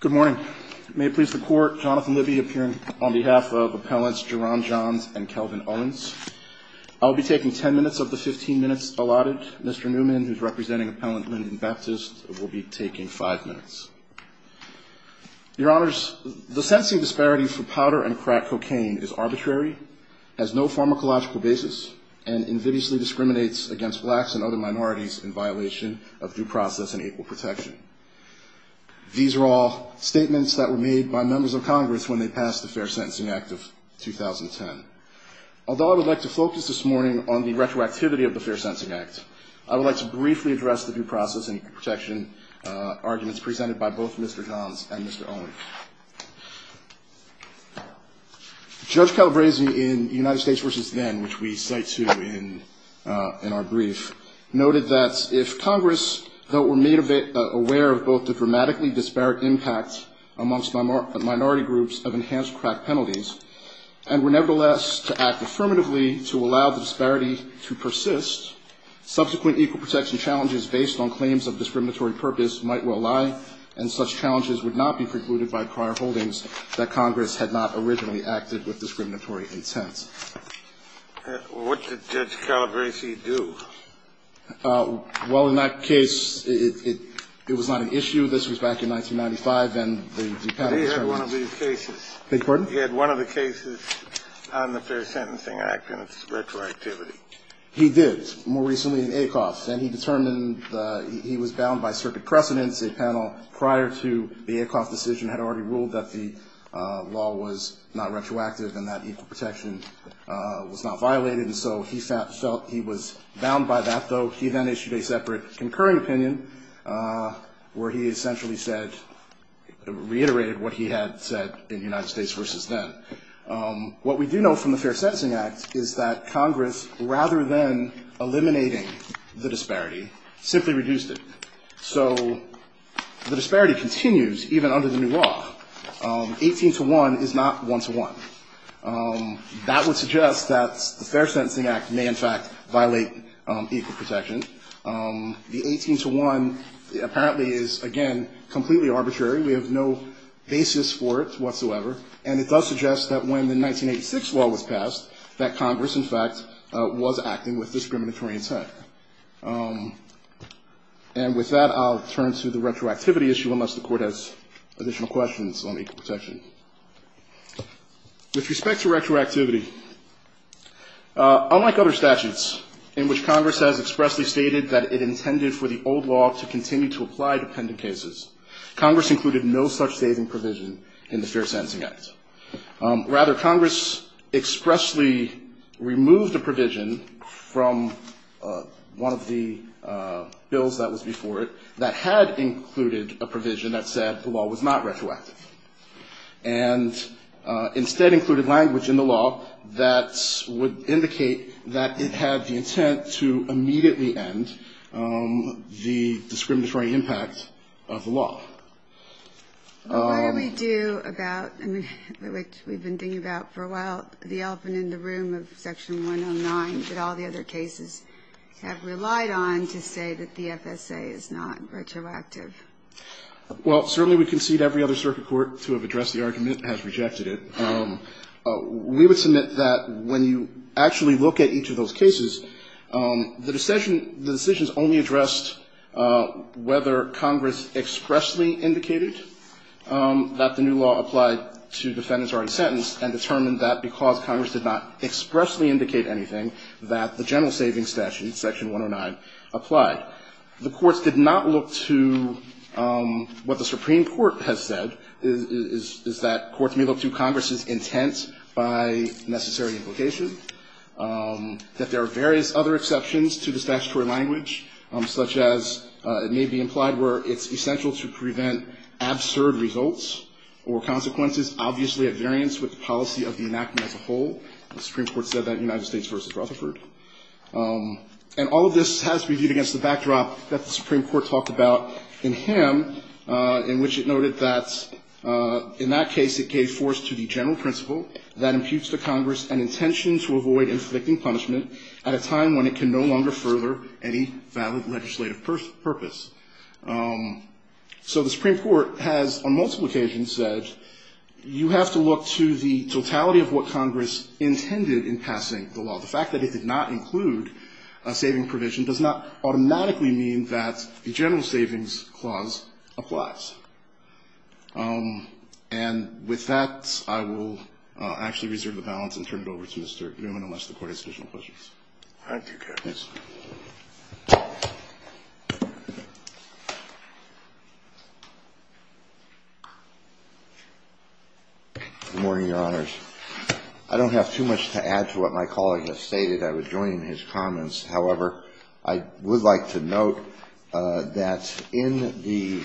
Good morning. May it please the Court, Jonathan Libby appearing on behalf of Appellants Jerron Johns and Kelvin Owens. I'll be taking 10 minutes of the 15 minutes allotted. Mr. Newman, who's representing Appellant Lyndon Baptist, will be taking 5 minutes. Your Honors, the sensing disparity for powder and crack cocaine is arbitrary, has no pharmacological basis, and invidiously discriminates against blacks and other minorities in violation of due process and equal protection. These are all statements that were made by members of Congress when they passed the Fair Sentencing Act of 2010. Although I would like to focus this morning on the retroactivity of the Fair Sentencing Act, I would like to briefly address the due process and equal protection arguments presented by both Mr. Johns and Mr. Owens. Judge Calabresi in United States v. Then, which we cite to in our brief, noted that if Congress, though it were made aware of both the dramatically disparate impact amongst minority groups of enhanced crack penalties and were nevertheless to act affirmatively to allow the disparity to persist, subsequent equal protection challenges based on claims of discriminatory purpose might well lie, and such challenges would not be precluded by prior holdings that Congress had not originally acted with discriminatory intent. Mr. Owens. Well, what did Judge Calabresi do? Well, in that case, it was not an issue. This was back in 1995, and the panel was very wise. He had one of these cases. Beg your pardon? He had one of the cases on the Fair Sentencing Act and its retroactivity. He did, more recently in Acoff. And he determined he was bound by circuit precedents. A panel prior to the Acoff decision had already ruled that the law was not retroactive and that equal protection was not violated, and so he felt he was bound by that. Though he then issued a separate concurring opinion where he essentially reiterated what he had said in United States v. Then. What we do know from the Fair Sentencing Act is that Congress, rather than eliminating the disparity, simply reduced it. So the disparity continues even under the new law. 18 to 1 is not 1 to 1. That would suggest that the Fair Sentencing Act may, in fact, violate equal protection. The 18 to 1 apparently is, again, completely arbitrary. We have no basis for it whatsoever. And it does suggest that when the 1986 law was passed, that Congress, in fact, was acting with discriminatory intent. And with that, I'll turn to the retroactivity issue, unless the Court has additional questions on equal protection. With respect to retroactivity, unlike other statutes in which Congress has expressly stated that it intended for the old law to continue to apply to dependent cases, Congress included no such saving provision in the Fair Sentencing Act. Rather, Congress expressly removed a provision from one of the bills that was before it that had included a provision that said the law was not retroactive. And instead included language in the law that would indicate that it had the intent to immediately end the discriminatory impact of the law. What do we do about, I mean, which we've been thinking about for a while, the elephant in the room of Section 109 that all the other cases have relied on to say that the FSA is not retroactive? Well, certainly we concede every other circuit court to have addressed the argument and has rejected it. We would submit that when you actually look at each of those cases, the decision only addressed whether Congress expressly indicated that the new law applied to defendants already sentenced and determined that because Congress did not expressly indicate anything, that the general savings statute, Section 109, applied. The courts did not look to what the Supreme Court has said, is that courts may look to such as it may be implied where it's essential to prevent absurd results or consequences obviously at variance with the policy of the enactment as a whole. The Supreme Court said that in United States v. Rutherford. And all of this has to be viewed against the backdrop that the Supreme Court talked about in Ham, in which it noted that in that case it gave force to the general principle that imputes to Congress an intention to avoid inflicting punishment at a time when it can no longer further any valid legislative purpose. So the Supreme Court has on multiple occasions said you have to look to the totality of what Congress intended in passing the law. The fact that it did not include a saving provision does not automatically mean that the general savings clause applies. And with that, I will actually reserve the balance and turn it over to Mr. Newman unless the Court has additional questions. Thank you, Counsel. Good morning, Your Honors. I don't have too much to add to what my colleague has stated. I was joined in his comments. However, I would like to note that in the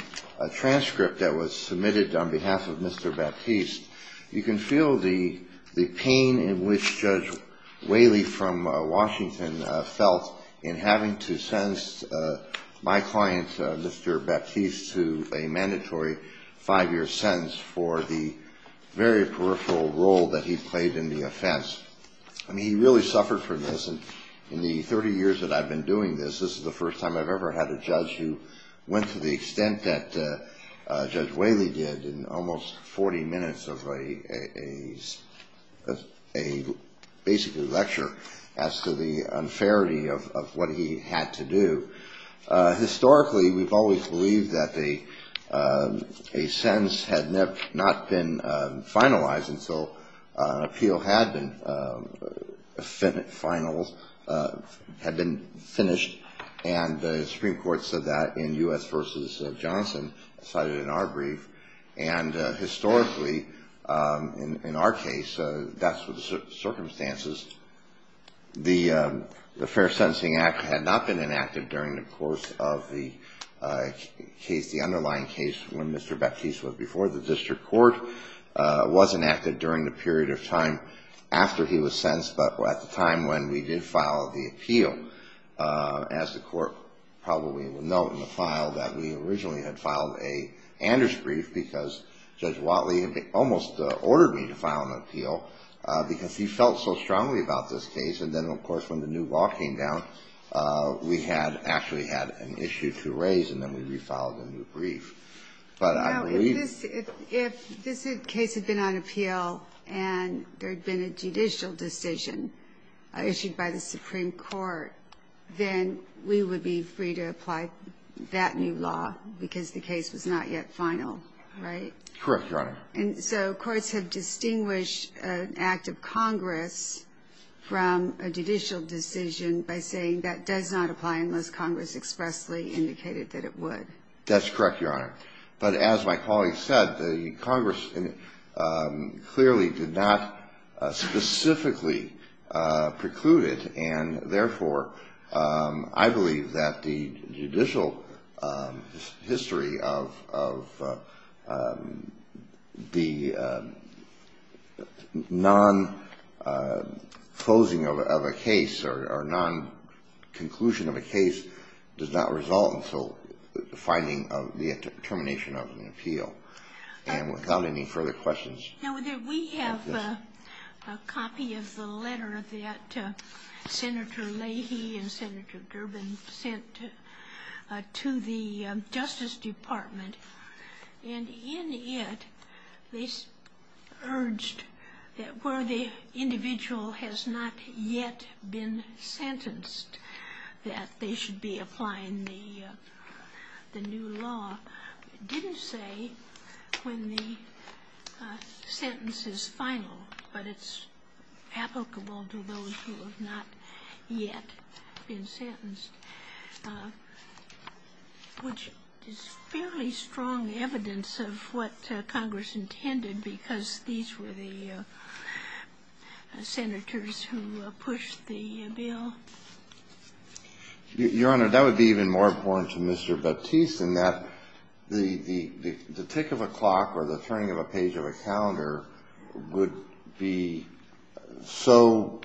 transcript that was submitted on behalf of Mr. Baptiste, you can feel the pain in which Judge Whaley from Washington felt in having to sentence my client, Mr. Baptiste, to a mandatory five-year sentence for the very peripheral role that he played in the offense. I mean, he really suffered for this. And in the 30 years that I've been doing this, this is the first time I've ever had a judge who went to the extent that Judge Whaley did in almost 40 minutes of a basically lecture as to the unfairity of what he had to do. Historically, we've always believed that a sentence had not been finalized until an appeal had been finished, and the Supreme Court said that in U.S. v. Johnson, cited in our brief. And historically, in our case, that's the circumstances. The Fair Sentencing Act had not been enacted during the course of the underlying case when Mr. Baptiste was sentenced, but at the time when we did file the appeal, as the Court probably will note in the file, that we originally had filed an Anders brief because Judge Whaley had almost ordered me to file an appeal because he felt so strongly about this case. And then, of course, when the new law came down, we had actually had an issue to raise, and then we refiled a new brief. But I believe that if this case had been on appeal and there had been a judicial decision issued by the Supreme Court, then we would be free to apply that new law because the case was not yet final, right? Correct, Your Honor. And so courts have distinguished an act of Congress from a judicial decision by saying that does not apply unless Congress expressly indicated that it would. That's correct, Your Honor. But as my colleague said, the Congress clearly did not specifically preclude it, and, therefore, I believe that the judicial history of the non-closing of a case or non-conclusion of a case does not result in a judicial decision. And that's also the finding of the termination of an appeal. And without any further questions... Now, we have a copy of the letter that Senator Leahy and Senator Durbin sent to the Justice Department, and in it, they urged that where the individual has not yet been sentenced, that they should be applying the new law. It didn't say when the sentence is final, but it's applicable to those who have not yet been sentenced, which is fairly strong evidence of what Congress intended because these were the senators who pushed the bill. Your Honor, that would be even more important to Mr. Baptiste in that the tick of a clock or the turning of a page of a calendar would be so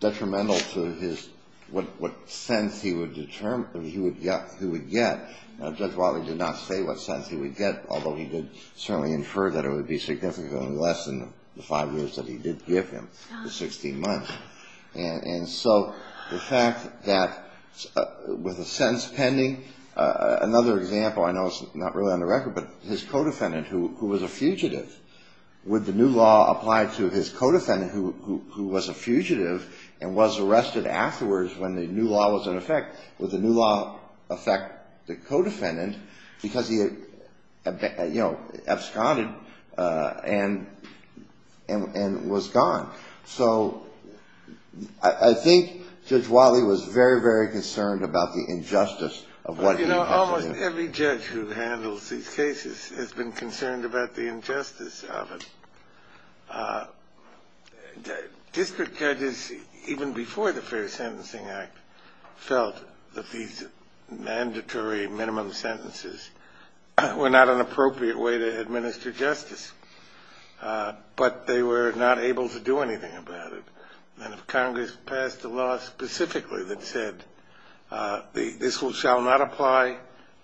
detrimental to his – what sentence he would get. Judge Wiley did not say what sentence he would get, although he did certainly infer that it would be significantly less than the five years that he did give him, the 16 months. And so the fact that with a sentence pending – another example, I know it's not really on the record, but his co-defendant who was a fugitive, would the new law apply to his co-defendant who was a fugitive and was arrested afterwards when the new law was in effect? Would the new law affect the co-defendant because he had, you know, absconded and was gone? So I think Judge Wiley was very, very concerned about the injustice of what he was doing. You know, almost every judge who handles these cases has been concerned about the injustice of it. District judges, even before the Fair Sentencing Act, felt that these mandatory minimum sentences were not an appropriate way to administer justice. But they were not able to do anything about it. And if Congress passed a law specifically that said, this shall not apply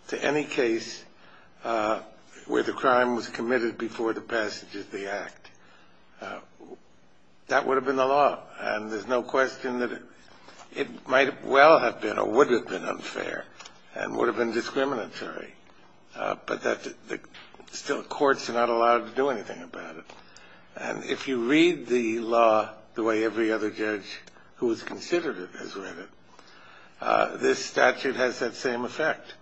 to any case where the crime was committed before the passage of the Act, that would have been the law. And there's no question that it might well have been or would have been unfair and would have been discriminatory. But still, courts are not allowed to do anything about it. And if you read the law the way every other judge who has considered it has read it, this statute has that same effect.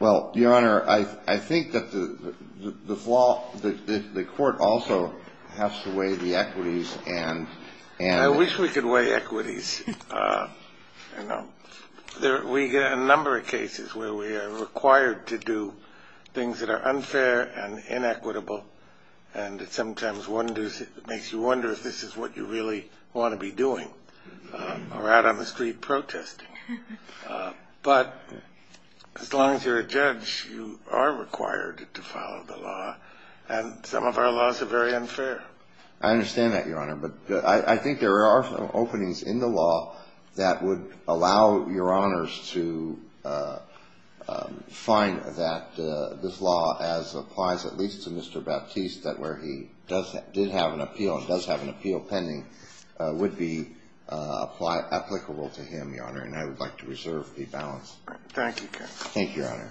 Well, Your Honor, I think that the court also has to weigh the equities. I wish we could weigh equities. You know, we get a number of cases where we are required to do things that are unfair and unfair and unfair. And inequitable. And it sometimes makes you wonder if this is what you really want to be doing or out on the street protesting. But as long as you're a judge, you are required to follow the law. And some of our laws are very unfair. I understand that, Your Honor. But I think there are some openings in the law that would allow Your Honors to find that this law as appropriate. And I would advise at least to Mr. Baptiste that where he did have an appeal and does have an appeal pending would be applicable to him, Your Honor. And I would like to reserve the balance. Thank you, Your Honor.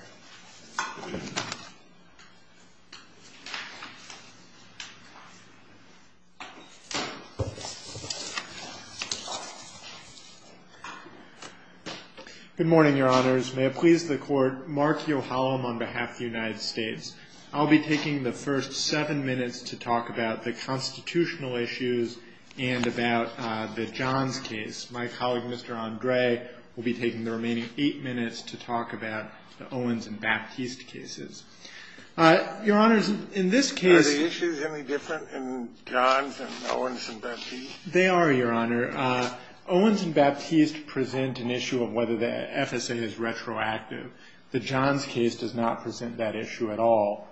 Good morning, Your Honors. May it please the Court, Mark Yohalam on behalf of the United States. I'll be taking the first seven minutes to talk about the constitutional issues and about the Johns case. My colleague, Mr. Andre, will be taking the remaining eight minutes to talk about the Owens and Baptiste cases. Your Honors, in this case... Are the issues any different in Johns and Owens and Baptiste? They are, Your Honor. Owens and Baptiste present an issue of whether the FSA is retroactive. The Johns case does not present that issue at all.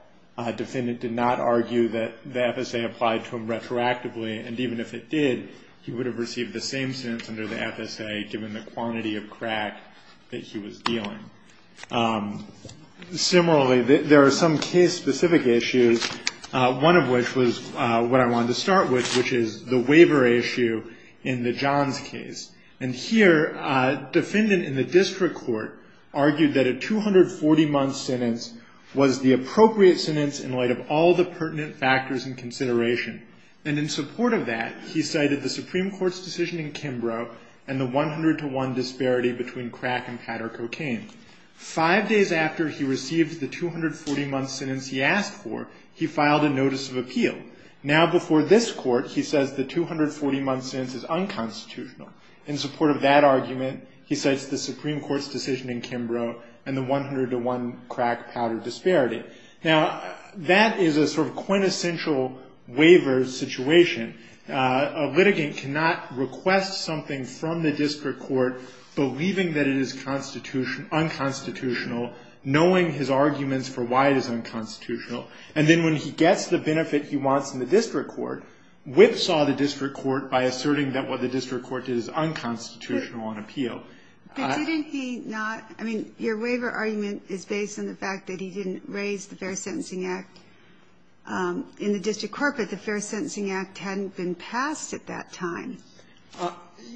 Defendant did not argue that the FSA applied to him retroactively, and even if it did, he would have received the same sentence under the FSA, given the quantity of crack that he was dealing. Similarly, there are some case-specific issues, one of which was what I wanted to start with, which is the waiver issue in the Johns case. And here, a defendant in the district court argued that a 240-month sentence was the appropriate sentence for the Johnson case. He argued that he received that sentence in light of all the pertinent factors in consideration, and in support of that, he cited the Supreme Court's decision in Kimbrough and the 100-to-1 disparity between crack and powder cocaine. Five days after he received the 240-month sentence he asked for, he filed a notice of appeal. Now, before this Court, he says the 240-month sentence is unconstitutional. In support of that argument, he cites the Supreme Court's decision in Kimbrough and the 100-to-1 crack-powder disparity. Now, that is a sort of quintessential waiver situation. A litigant cannot request something from the district court, believing that it is unconstitutional, knowing his arguments for why it is unconstitutional. And then when he gets the benefit he wants in the district court, whipsaw the district court by asserting that what the district court did is unconstitutional on appeal. But didn't he not – I mean, your waiver argument is based on the fact that he didn't raise the Fair Sentencing Act in the district court, but the Fair Sentencing Act hadn't been passed at that time.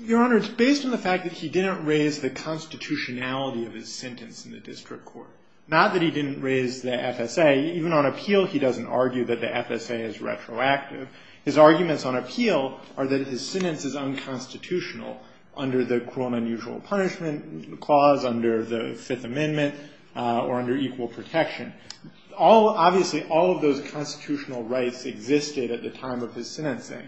Your Honor, it's based on the fact that he didn't raise the constitutionality of his sentence in the district court. Not that he didn't raise the FSA. Even on appeal, he doesn't argue that the FSA is retroactive. His arguments on appeal are that his sentence is unconstitutional under the cruel and unusual punishment clause, under the Fifth Amendment, or under equal protection. Obviously, all of those constitutional rights existed at the time of his sentencing.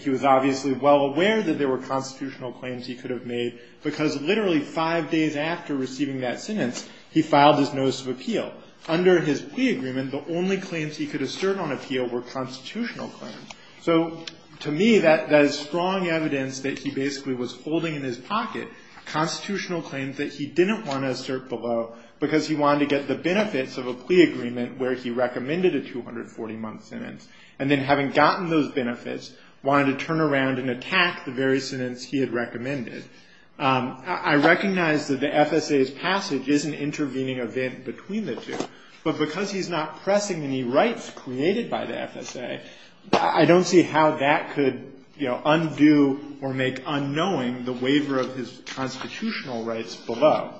He was obviously well aware that there were constitutional claims he could have made, because literally five days after receiving that sentence, he filed his notice of appeal. Under his plea agreement, the only claims he could assert on appeal were constitutional claims. So to me, that is strong evidence that he basically was holding in his pocket constitutional claims that he didn't want to assert below, because he wanted to get the benefits of a plea agreement where he recommended a 240-month sentence. Wanted to turn around and attack the very sentence he had recommended. I recognize that the FSA's passage is an intervening event between the two. But because he's not pressing any rights created by the FSA, I don't see how that could undo or make unknowing the waiver of his constitutional rights below.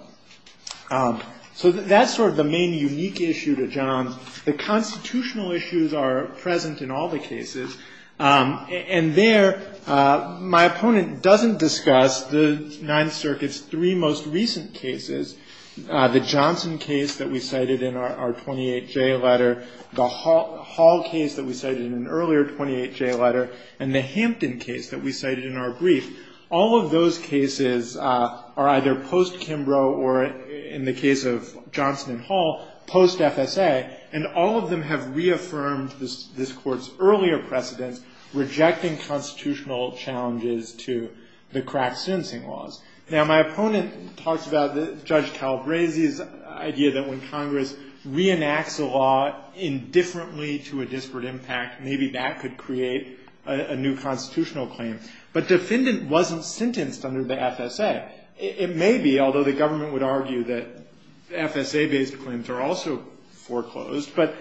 So that's sort of the main unique issue to Johns. The constitutional issues are present in all the cases. And there, my opponent doesn't discuss the Ninth Circuit's three most recent cases, the Johnson case that we cited in our 28J letter, the Hall case that we cited in an earlier 28J letter, and the Hampton case that we cited in our brief. All of those cases are either post-Kimbrough or, in the case of Johnson and Hall, post-FSA. And all of them have reaffirmed this Court's earlier precedence, rejecting constitutional challenges to the Kraft sentencing laws. Now, my opponent talks about Judge Talbrazy's idea that when Congress reenacts a law indifferently to a disparate impact, maybe that could create a new constitutional claim. But defendant wasn't sentenced under the FSA. It may be, although the government would argue that FSA-based claims are also foreclosed, but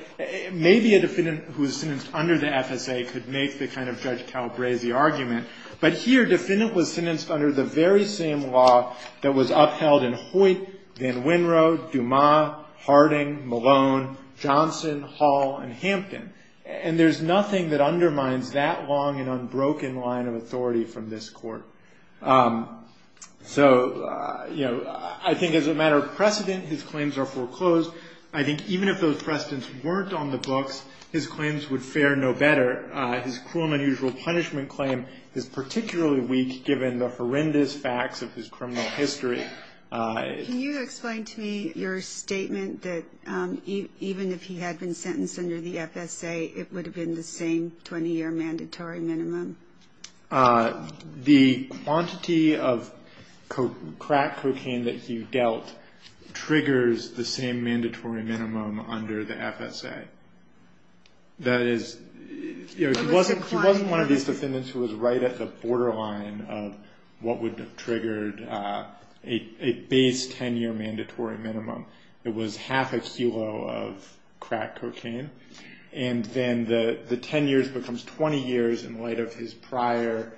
maybe a defendant who was sentenced under the FSA could make the kind of Judge Talbrazy argument. But here, defendant was sentenced under the very same law that was upheld in Hoyt, Van Wynrode, Dumas, Harding, Malone, Johnson, Hall, and Hampton. And there's nothing that undermines that long and unbroken line of authority from this Court. So, you know, I think as a matter of precedent, his claims are foreclosed. I think even if those precedents weren't on the books, his claims would fare no better. His cruel and unusual punishment claim is particularly weak given the horrendous facts of his criminal history. Can you explain to me your statement that even if he had been sentenced under the FSA, it would have been the same 20-year mandatory minimum? The quantity of crack cocaine that he dealt triggers the same mandatory minimum under the FSA. That is, he wasn't one of these defendants who was right at the borderline of what would have triggered a base 10-year mandatory minimum. It was half a kilo of crack cocaine. And then the 10 years becomes 20 years in light of his prior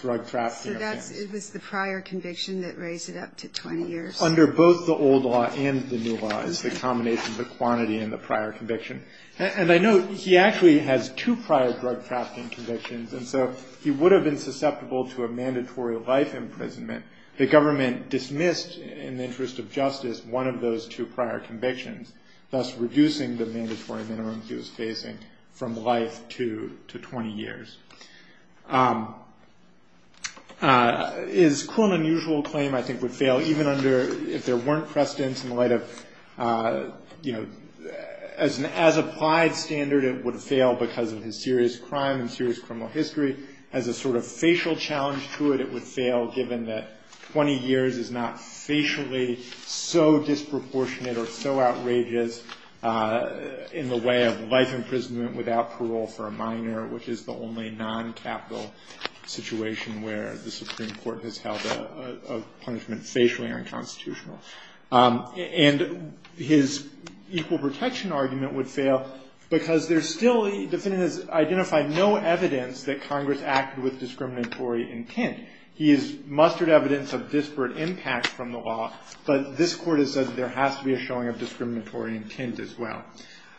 drug-trafficking offenses. So that's, it was the prior conviction that raised it up to 20 years? Under both the old law and the new law, it's the combination of the quantity and the prior conviction. And I note he actually has two prior drug-trafficking convictions, and so he would have been susceptible to a mandatory life imprisonment. The government dismissed, in the interest of justice, one of those two prior convictions, thus reducing the mandatory minimum. He was facing from life to 20 years. His cruel and unusual claim, I think, would fail even under, if there weren't precedents in the light of, you know, as an as-applied standard, it would fail because of his serious crime and serious criminal history. As a sort of facial challenge to it, it would fail given that 20 years is not facially so disproportionate or so outrageous in the way of life imprisonment without parole for a minor, which is the only non-capital situation where the Supreme Court has held a punishment facially unconstitutional. And his equal protection argument would fail because there's still, the defendant has identified no evidence that Congress acted with discriminatory intent. He has mustered evidence of disparate impact from the law, but this Court has said there has to be a showing of discriminatory intent as well.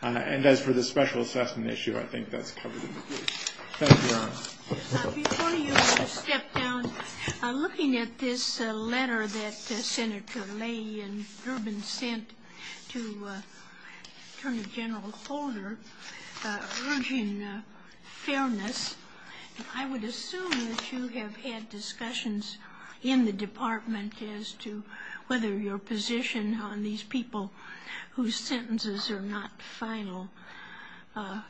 And as for the special assessment issue, I think that's covered in the case. Thank you, Your Honor. Before you step down, looking at this letter that Senator Ley and Durbin sent to Attorney General Holder, urging fairness, I would assume that you have had discussions in the department as to whether your position on these people whose sentences are not subject to the law. I mean, if they're not final,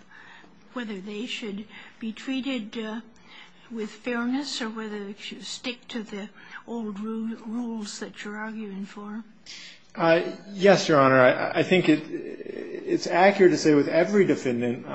whether they should be treated with fairness or whether they should stick to the old rules that you're arguing for? Yes, Your Honor. I think it's accurate to say with every defendant,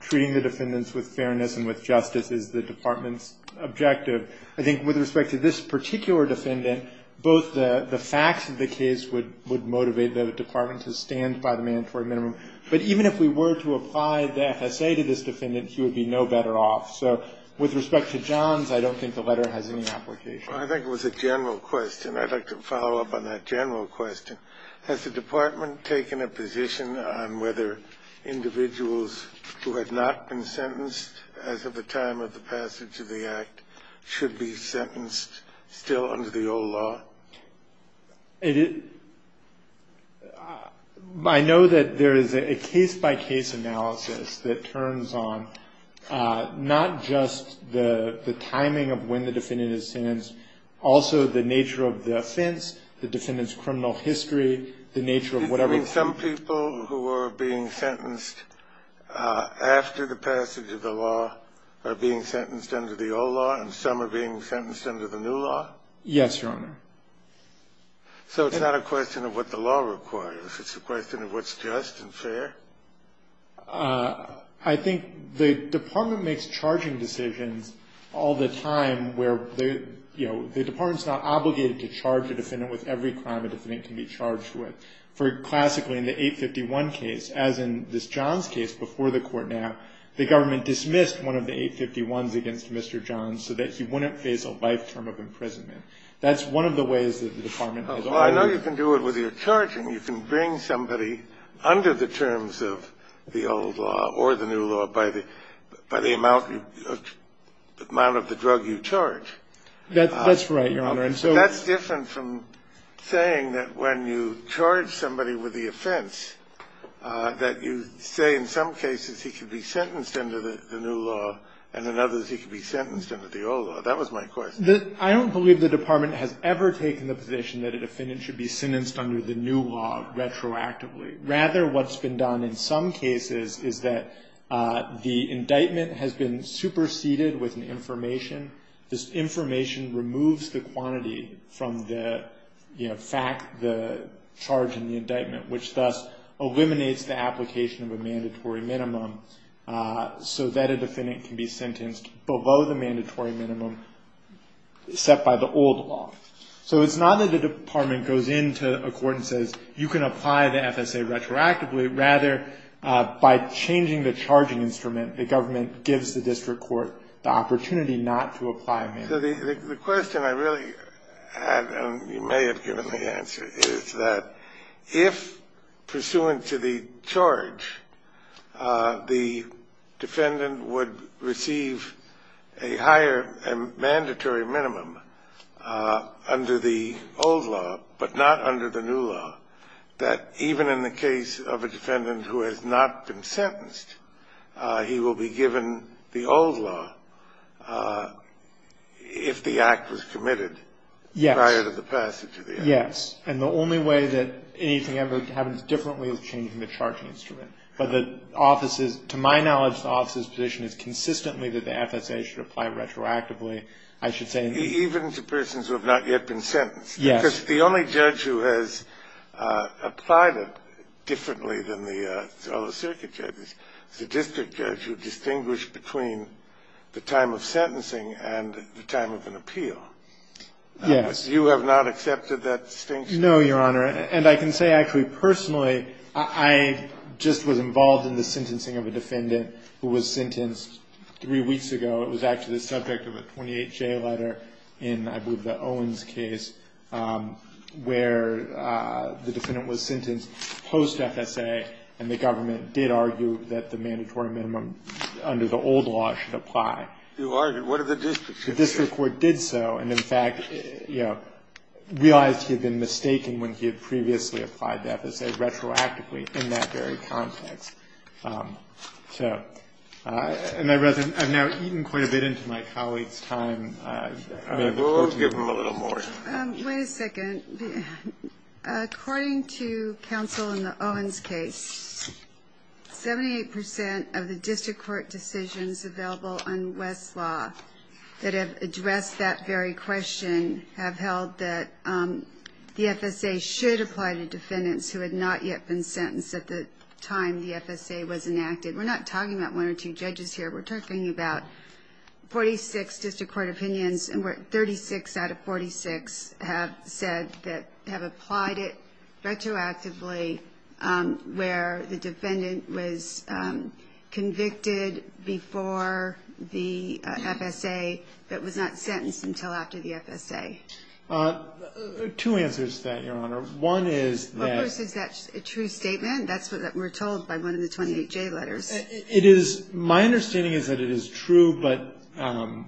treating the defendants with fairness and with justice is the department's objective. I think with respect to this particular defendant, both the facts of the case would motivate the department to stand by the mandatory minimum, and the facts of the case would motivate the department to stand by the mandatory minimum. But even if we were to apply the FSA to this defendant, he would be no better off. So with respect to Johns, I don't think the letter has any application. I think it was a general question. I'd like to follow up on that general question. Has the department taken a position on whether individuals who have not been sentenced as of the time of the passage of the Act should be sentenced still under the old law? I know that there is a case-by-case analysis that turns on not just the timing of when the defendant is sentenced, also the nature of the offense, the defendant's criminal history, the nature of whatever... You're saying some people who are being sentenced after the passage of the law are being sentenced under the old law, and some are being sentenced under the new law? Yes, Your Honor. So it's not a question of what the law requires. It's a question of what's just and fair? I think the department makes charging decisions all the time where the department's not obligated to charge a defendant with every crime a defendant can be charged with. For classically, in the 851 case, as in this Johns case before the court now, the government dismissed one of the 851s against Mr. Johns so that he wouldn't face a life term of imprisonment. That's one of the ways that the department has always... I know you can do it with your charging. You can bring somebody under the terms of the old law or the new law by the amount of the drug you charge. That's right, Your Honor. That's different from saying that when you charge somebody with the offense, that you say in some cases he can be sentenced under the new law, and in others he can be sentenced under the old law. That was my question. I don't believe the department has ever taken the position that a defendant should be sentenced under the new law retroactively. Rather, what's been done in some cases is that the indictment has been superseded with an information. This information removes the quantity from the fact, the charge, and the indictment, which thus eliminates the application of a mandatory minimum so that a defendant can be sentenced below the mandatory minimum. So it's not that the department goes into a court and says, you can apply the FSA retroactively. Rather, by changing the charging instrument, the government gives the district court the opportunity not to apply a minimum. So the question I really had, and you may have given the answer, is that if, pursuant to the charge, the defendant would receive a higher mandatory minimum, under the old law, but not under the new law, that even in the case of a defendant who has not been sentenced, he will be given the old law if the act was committed prior to the passage of the act. Yes, and the only way that anything ever happens differently is changing the charging instrument. But to my knowledge, the office's position is consistently that the FSA should apply retroactively. Even to persons who have not yet been sentenced? Yes. Because the only judge who has applied it differently than the fellow circuit judges is the district judge who distinguished between the time of sentencing and the time of an appeal. Yes. You have not accepted that distinction? No, Your Honor. And I can say, actually, personally, I just was involved in the sentencing of a defendant who was sentenced three weeks ago. It was actually the subject of a 28-J letter in, I believe, the Owens case, where the defendant was sentenced post-FSA, and the government did argue that the mandatory minimum under the old law should apply. You argued? What did the district say? The district court did so, and, in fact, realized he had been mistaken when he had previously applied the FSA retroactively in that very context. So, and I've now eaten quite a bit into my colleagues' time. We'll have to give them a little more. Wait a second. According to counsel in the Owens case, 78 percent of the district court decisions available on West's law that have addressed that very question have held that the FSA should apply to defendants who had not yet been sentenced at the time the FSA was applied. We're not talking about one or two judges here. We're talking about 46 district court opinions, and 36 out of 46 have said that have applied it retroactively where the defendant was convicted before the FSA but was not sentenced until after the FSA. Two answers to that, Your Honor. One is that... ...and the other is that West's law does not apply retroactively. It is, my understanding is that it is true, but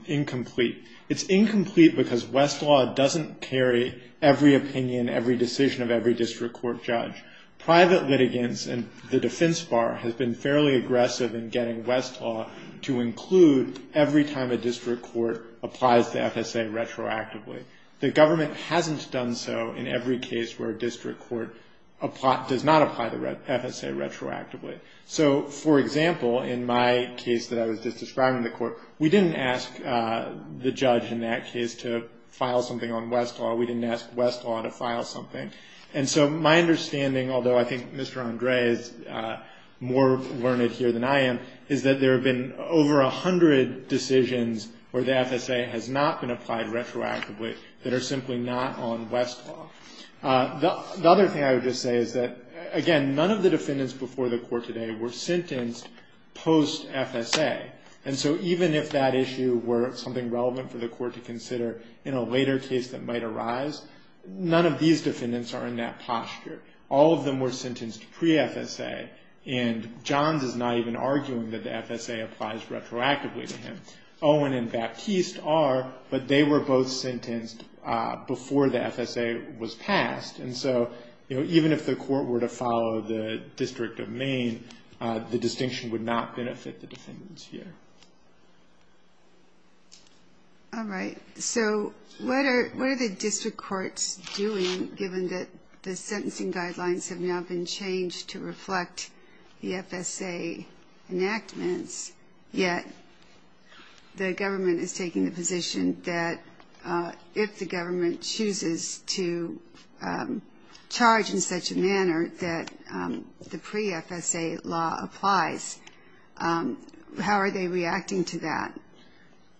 incomplete. It's incomplete because West's law doesn't carry every opinion, every decision of every district court judge. Private litigants and the defense bar has been fairly aggressive in getting West's law to include every time a district court applies the FSA retroactively. The government hasn't done so in every case where a district court does not apply the FSA retroactively. So, for example, in my case that I was just describing in the court, we didn't ask the judge in that case to file something on West's law. We didn't ask West's law to file something. And so my understanding, although I think Mr. Andre is more learned here than I am, is that there have been over a hundred decisions where the FSA has not been applied retroactively. That are simply not on West's law. The other thing I would just say is that, again, none of the defendants before the court today were sentenced post-FSA. And so even if that issue were something relevant for the court to consider in a later case that might arise, none of these defendants are in that posture. All of them were sentenced pre-FSA. And Johns is not even arguing that the FSA applies retroactively to him. He's arguing that the FSA applies retroactively to the defendants before the FSA was passed. And so, you know, even if the court were to follow the District of Maine, the distinction would not benefit the defendants here. All right. So what are the district courts doing, given that the sentencing guidelines have now been changed to reflect the FSA enactments, yet the government is taking the position that if the government chooses to charge in such a manner that the pre-FSA law applies, how are they reacting to that?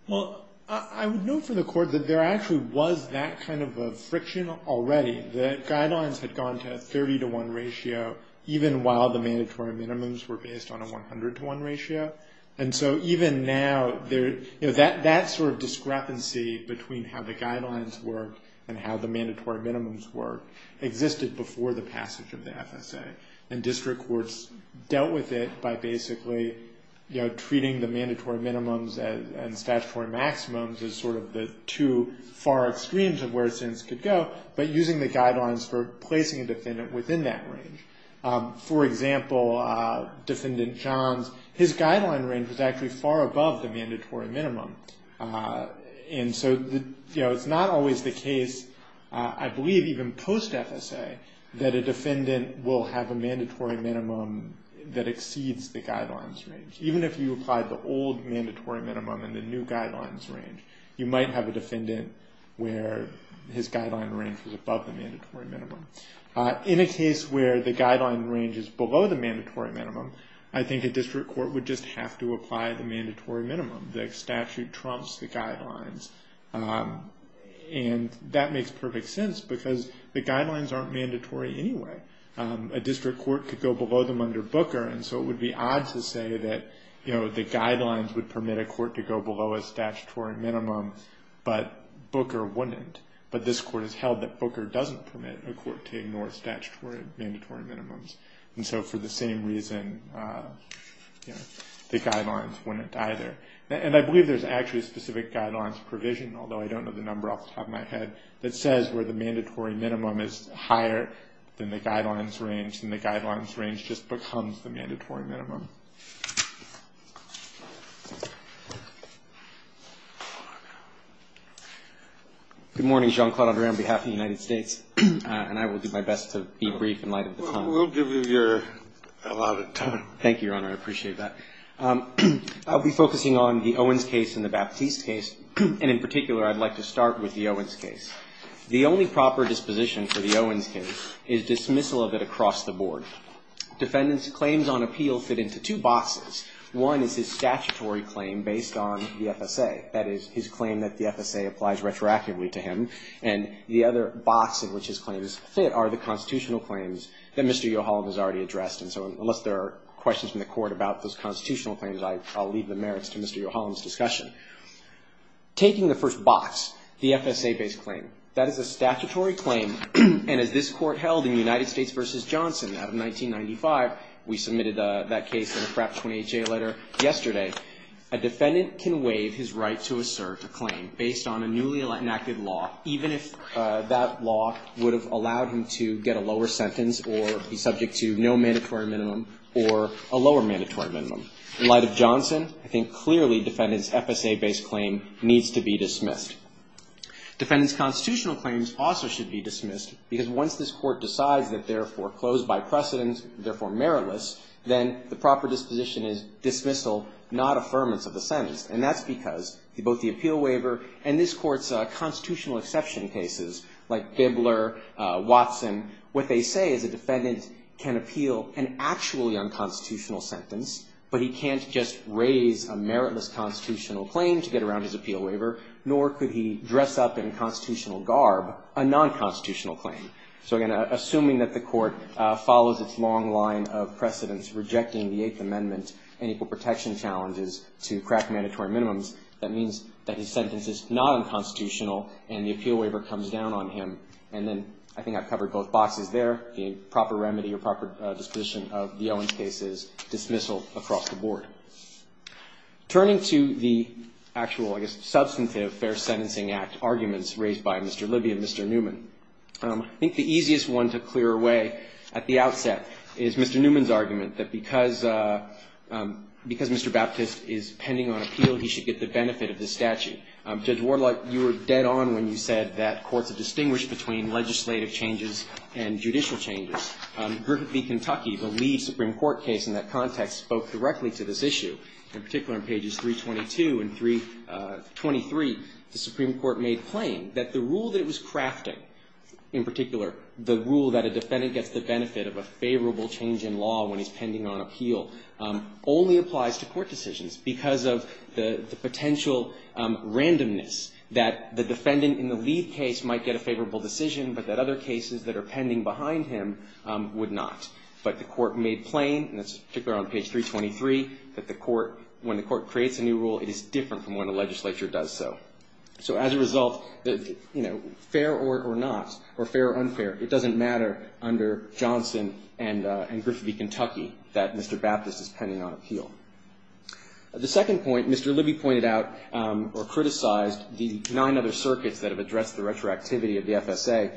Well, I would note for the court that there actually was that kind of a friction already. The guidelines had gone to a 30-to-1 ratio, even while the mandatory minimums were based on a 100-to-1 ratio. And so even now, you know, that sort of discrepancy between how the guidelines work and how the mandatory minimums work existed before the passage of the FSA. And district courts dealt with it by basically, you know, treating the mandatory minimums and statutory maximums as sort of the two far extremes of where a sentence could go, but using the guidelines for placing a defendant within that range. For example, Defendant Johns, his guideline range was actually far above the mandatory minimum. And so, you know, it's not always the case, I believe even post-FSA, that a defendant will have a mandatory minimum that exceeds the guidelines range. Even if you apply the old mandatory minimum and the new guidelines range, you might have a defendant where his guideline range was above the mandatory minimum. In a case where the guideline range is below the mandatory minimum, I think a district court would just have to apply the mandatory minimum. The statute trumps the guidelines. And that makes perfect sense, because the guidelines aren't mandatory anyway. A district court could go below them under Booker, and so it would be odd to say that, you know, the guidelines would permit a court to go below a statutory minimum, but Booker wouldn't. But this court has held that Booker doesn't permit a court to ignore statutory mandatory minimums. And so for the same reason, you know, the guidelines wouldn't either. And I believe there's actually a specific guidelines provision, although I don't know the number off the top of my head, that says where the mandatory minimum is higher than the guidelines range, then the guidelines range just becomes the mandatory minimum. Good morning. Jean-Claude André on behalf of the United States. And I will do my best to be brief in light of the time. We'll give you a lot of time. Thank you, Your Honor. I appreciate that. I'll be focusing on the Owens case and the Baptiste case, and in particular I'd like to start with the Owens case. The only proper disposition for the Owens case is dismissal of it across the board. Defendants' claims on appeal fit into two boxes. One is his statutory claim based on the FSA. That is, his claim that the FSA applies retroactively to him. And the other box in which his claims fit are the constitutional claims that Mr. Yohalam has already addressed. Unless there are questions from the Court about those constitutional claims, I'll leave the merits to Mr. Yohalam's discussion. Taking the first box, the FSA-based claim, that is a statutory claim, and as this Court held in United States v. Johnson out of 1995, we submitted that case in a Pratt 28-J letter yesterday, a defendant can waive his right to assert a claim based on a newly enacted law, even if that law would have allowed him to get a lower sentence or be subject to no mandatory minimum or a lower mandatory minimum. In light of Johnson, I think clearly defendants' FSA-based claim needs to be dismissed. Defendants' constitutional claims also should be dismissed, because once this Court decides that they're foreclosed by precedence, therefore meritless, then the proper disposition is dismissal, not affirmance of the sentence. And that's because both the appeal waiver and this Court's constitutional exception cases, like Bibler, Watson, what they say is a defendant can appeal an actually unconstitutional sentence, but he can't just raise a meritless constitutional claim to get around his appeal waiver, nor could he dress up in constitutional garb a nonconstitutional claim. So again, assuming that the Court follows its long line of precedence, rejecting the Eighth Amendment and equal protection challenges to crack mandatory minimums, that means that his sentence is not unconstitutional, and the appeal waiver comes down on him. And then, I think I've covered both boxes there, the proper remedy or proper disposition of the Owens case is dismissal across the board. Turning to the actual, I guess, substantive Fair Sentencing Act arguments raised by Mr. Libby and Mr. Newman, I think the easiest one to clear away at the outset is Mr. Newman's argument that because Mr. Baptist is pending on appeal, he should get the benefit of the statute. Judge Warlock, you were dead on when you said that courts are distinguished between legislative changes and judicial changes. Griffith v. Kentucky, the lead Supreme Court case in that context, spoke directly to this issue. In particular, in pages 322 and 323, the Supreme Court made plain that the rule that it was crafting, in particular, the rule that a defendant gets the benefit of a favorable change in law when he's pending on appeal, only applies to court decisions because of the potential randomness that the defendant in the lead case might get a favorable decision, but that other cases that are pending behind him would not. But the court made plain, particularly on page 323, that when the court creates a new rule, it is different from when the legislature does so. So as a result, fair or not, or fair or unfair, it doesn't matter under Johnson and Griffith v. Kentucky that Mr. Baptist is pending on appeal. The second point, Mr. Libby pointed out or criticized the nine other circuits that have addressed the retroactivity of the FSA,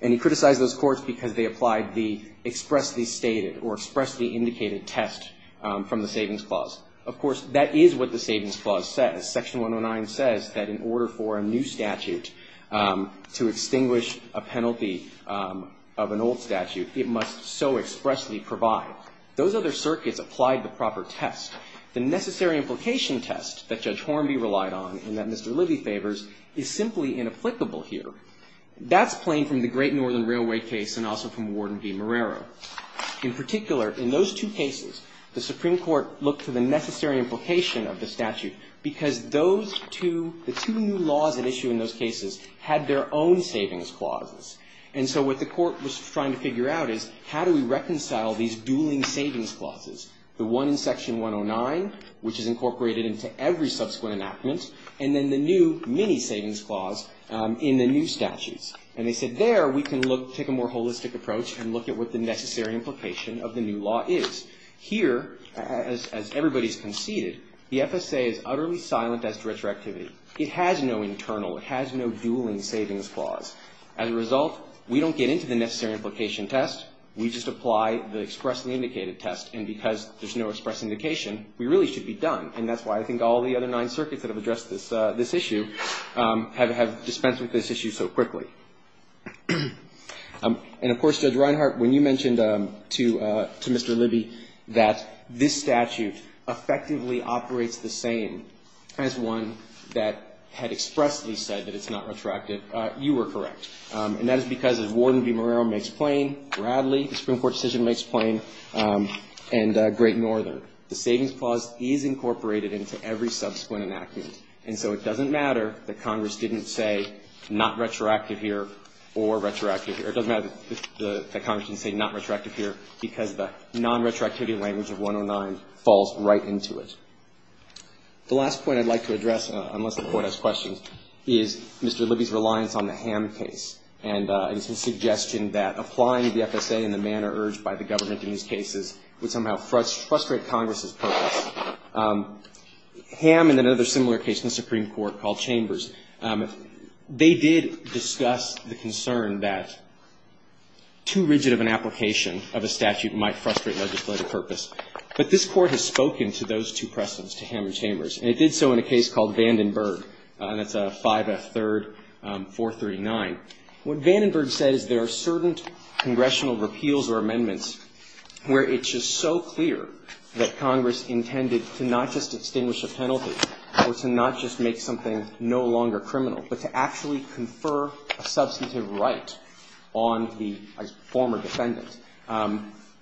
and he criticized those courts because they applied the expressly stated or expressly indicated test from the Savings Clause. Of course, that is what the Savings Clause says. Section 109 says that in order for a new statute to extinguish a penalty of an old statute, it must so expressly provide. Those other circuits applied the proper test. The necessary implication test that Judge Hornby relied on and that Mr. Libby favors is simply inapplicable here. That's plain from the Great Northern Railway case and also from Warden v. Marrero. In particular, in those two cases, the Supreme Court looked to the necessary implication of the statute because those two, the two new laws at issue in those cases had their own Savings Clauses. And so what the Court was trying to figure out is how do we reconcile these dueling Savings Clauses? The one in Section 109, which is incorporated into every subsequent enactment, and then the new mini Savings Clause in the new statutes. And they said there we can look, take a more holistic approach and look at what the necessary implication of the new law is. Here, as everybody's conceded, the FSA is utterly silent as to retroactivity. It has no internal, it has no dueling Savings Clause. As a result, we don't get into the necessary implication test. We just apply the expressly indicated test. And because there's no express indication, we really should be done. And that's why I think all the other nine circuits that have addressed this issue have dispensed with this issue so quickly. And of course, Judge Reinhart, when you mentioned to Mr. Libby that this statute effectively operates the same as one that had been enacted, you were correct. And that is because as Warden V. Moreiro makes plain, Bradley, the Supreme Court decision makes plain, and Great Northern, the Savings Clause is incorporated into every subsequent enactment. And so it doesn't matter that Congress didn't say not retroactive here or retroactive here. It doesn't matter that Congress didn't say not retroactive here because the falls right into it. The last point I'd like to address, unless the Court has questions, is Mr. Libby's reliance on the Ham case and his suggestion that applying the FSA in the manner urged by the government in these cases would somehow frustrate Congress's purpose. Ham and another similar case in the Supreme Court called Chambers, they did discuss the concern that too rigid of an application of a statute might frustrate legislative purpose. But this Court has spoken to those two precedents, to Ham and Chambers. And it did so in a case called Vandenberg, and that's a 5F 3rd 439. What Vandenberg says, there are certain congressional repeals or amendments where it's just so clear that Congress intended to not just extinguish a penalty or to not just make something no longer criminal, but to actually confer a substantive right on the former defendant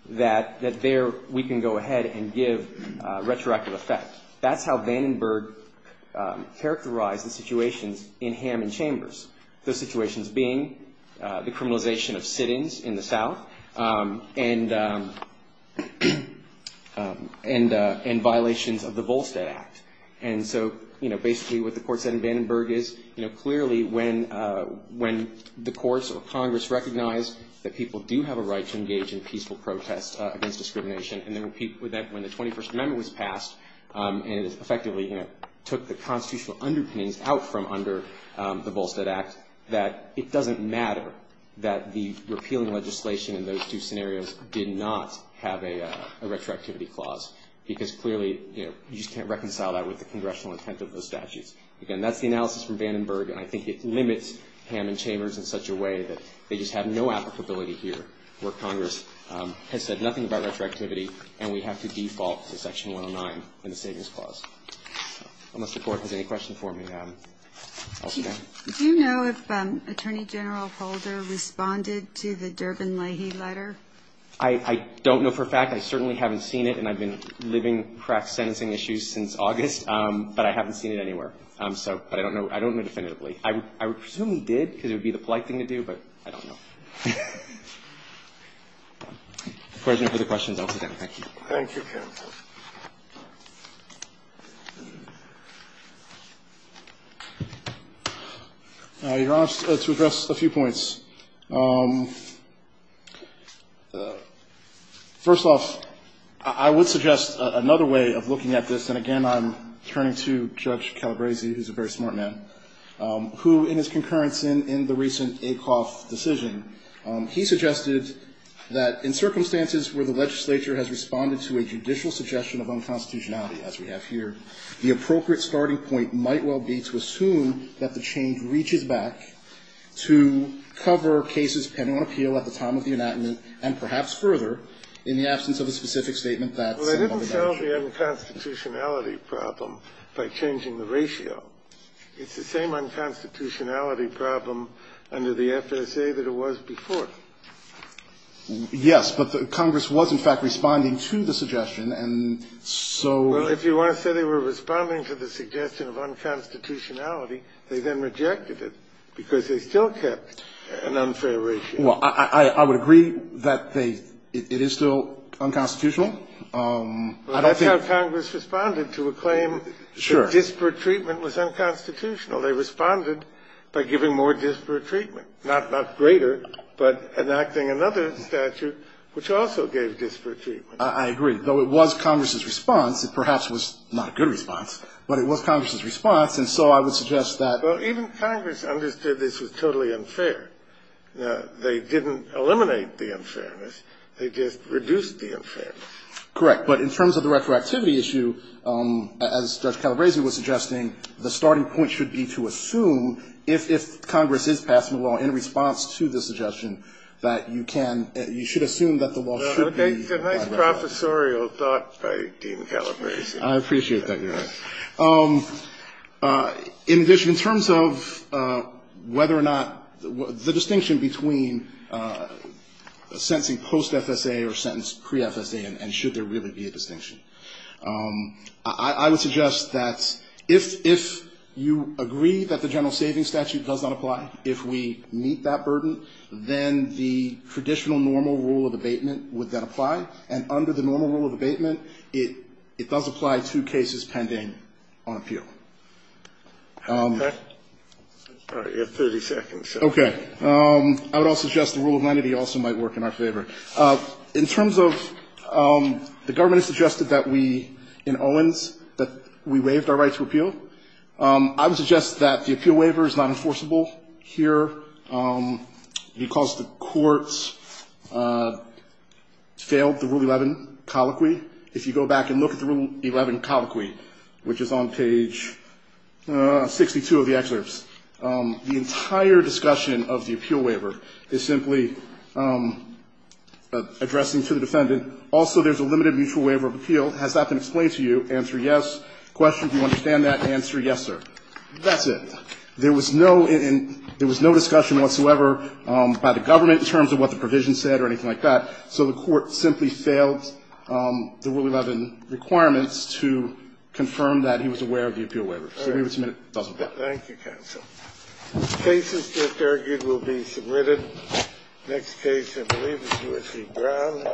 that there we can go ahead and give retroactive effect. That's how Vandenberg characterized the situations in Ham and Chambers. Those situations being the criminalization of sit-ins in the South and violations of the Volstead Act. And so basically what the Court said in Vandenberg is clearly when the courts or Congress recognize that people do have a right to engage in peaceful protest against discrimination and that when the 21st Amendment was passed and it effectively took the constitutional underpinnings out from under the Volstead Act that it doesn't matter that the repealing legislation in those two scenarios did not have a retroactivity clause because clearly you just can't reconcile that with the congressional intent of those statutes. Again, that's the analysis from Vandenberg and I think it limits Ham and Chambers in such a way that they just have no applicability here where Congress has said nothing about retroactivity and we have to default to Section 109 in the Savings Clause. I don't know if the Court has any questions for me. Do you know if Attorney General Holder responded to the Durbin-Lahey letter? I don't know for a fact. I certainly haven't seen it and I've been living crack sentencing issues since August, but I haven't seen it anywhere. But I don't know definitively. I presume he did because it would be the polite thing to do, but I don't know. If there's any further questions, I'll take them. Thank you. Thank you, counsel. Your Honor, to address a few points. First off, I would suggest another way of looking at this, and again, I'm turning to Judge Calabresi, who's a very smart man, who in his concurrence said that there was no unconstitutionality. Well, I didn't solve the unconstitutionality problem by changing the ratio. It's the same unconstitutionality problem under the FSA that it was before. Yes, but Congress was, in fact, responding to the suggestion, and so... Well, if you want to say they were responding to the suggestion of unconstitutionality, they then rejected it because they still kept an unfair ratio. Well, I would agree that it is still unconstitutional. I don't think... Well, that's how Congress responded to a claim that disparate treatment was unconstitutional. They responded by giving more disparate treatment, not greater, but enacting another statute which also gave disparate treatment. I agree, though it was Congress's response. It perhaps was not a good response, but it was Congress's response, and so I would suggest that... Well, even Congress understood this was totally unfair. They didn't eliminate the unfairness. They just reduced the unfairness. Correct, but in terms of the retroactivity issue, as Judge Calabresi was suggesting, the starting point should be to assume if Congress is passing a law in response to the suggestion that you can assume that the law should be... It's a nice professorial thought by Dean Calabresi. I appreciate that, Your Honor. In terms of whether or not the distinction between sentencing post-FSA or sentence pre-FSA and should there really be a distinction, I would suggest that if you agree that the general savings statute does not apply, if we meet that burden, then the traditional normal rule of abatement would then apply, and under the normal rule of abatement, it does apply to cases pending on appeal. Okay. All right. You have 30 seconds. Okay. I would also suggest the rule of lenity also might work in our favor. In terms of the government has suggested that we, in Owens, that we waived our right to appeal, I would suggest that the appeal waiver is not enforceable here because the courts failed the Rule 11 colloquy. If you go back and look at the Rule 11 colloquy, which is on page 62 of the excerpts, the entire discussion of the appeal waiver is simply addressing to the defendant, also there's a question, if you understand that, answer yes, sir. That's it. There was no discussion whatsoever by the government in terms of what the provision said or anything like that, so the court simply failed the Rule 11 requirements to confirm that he was aware of the appeal waiver. So we would submit it doesn't apply. Thank you, counsel. Cases that argued will be submitted. Next case, I believe, is U.S.C. Brown.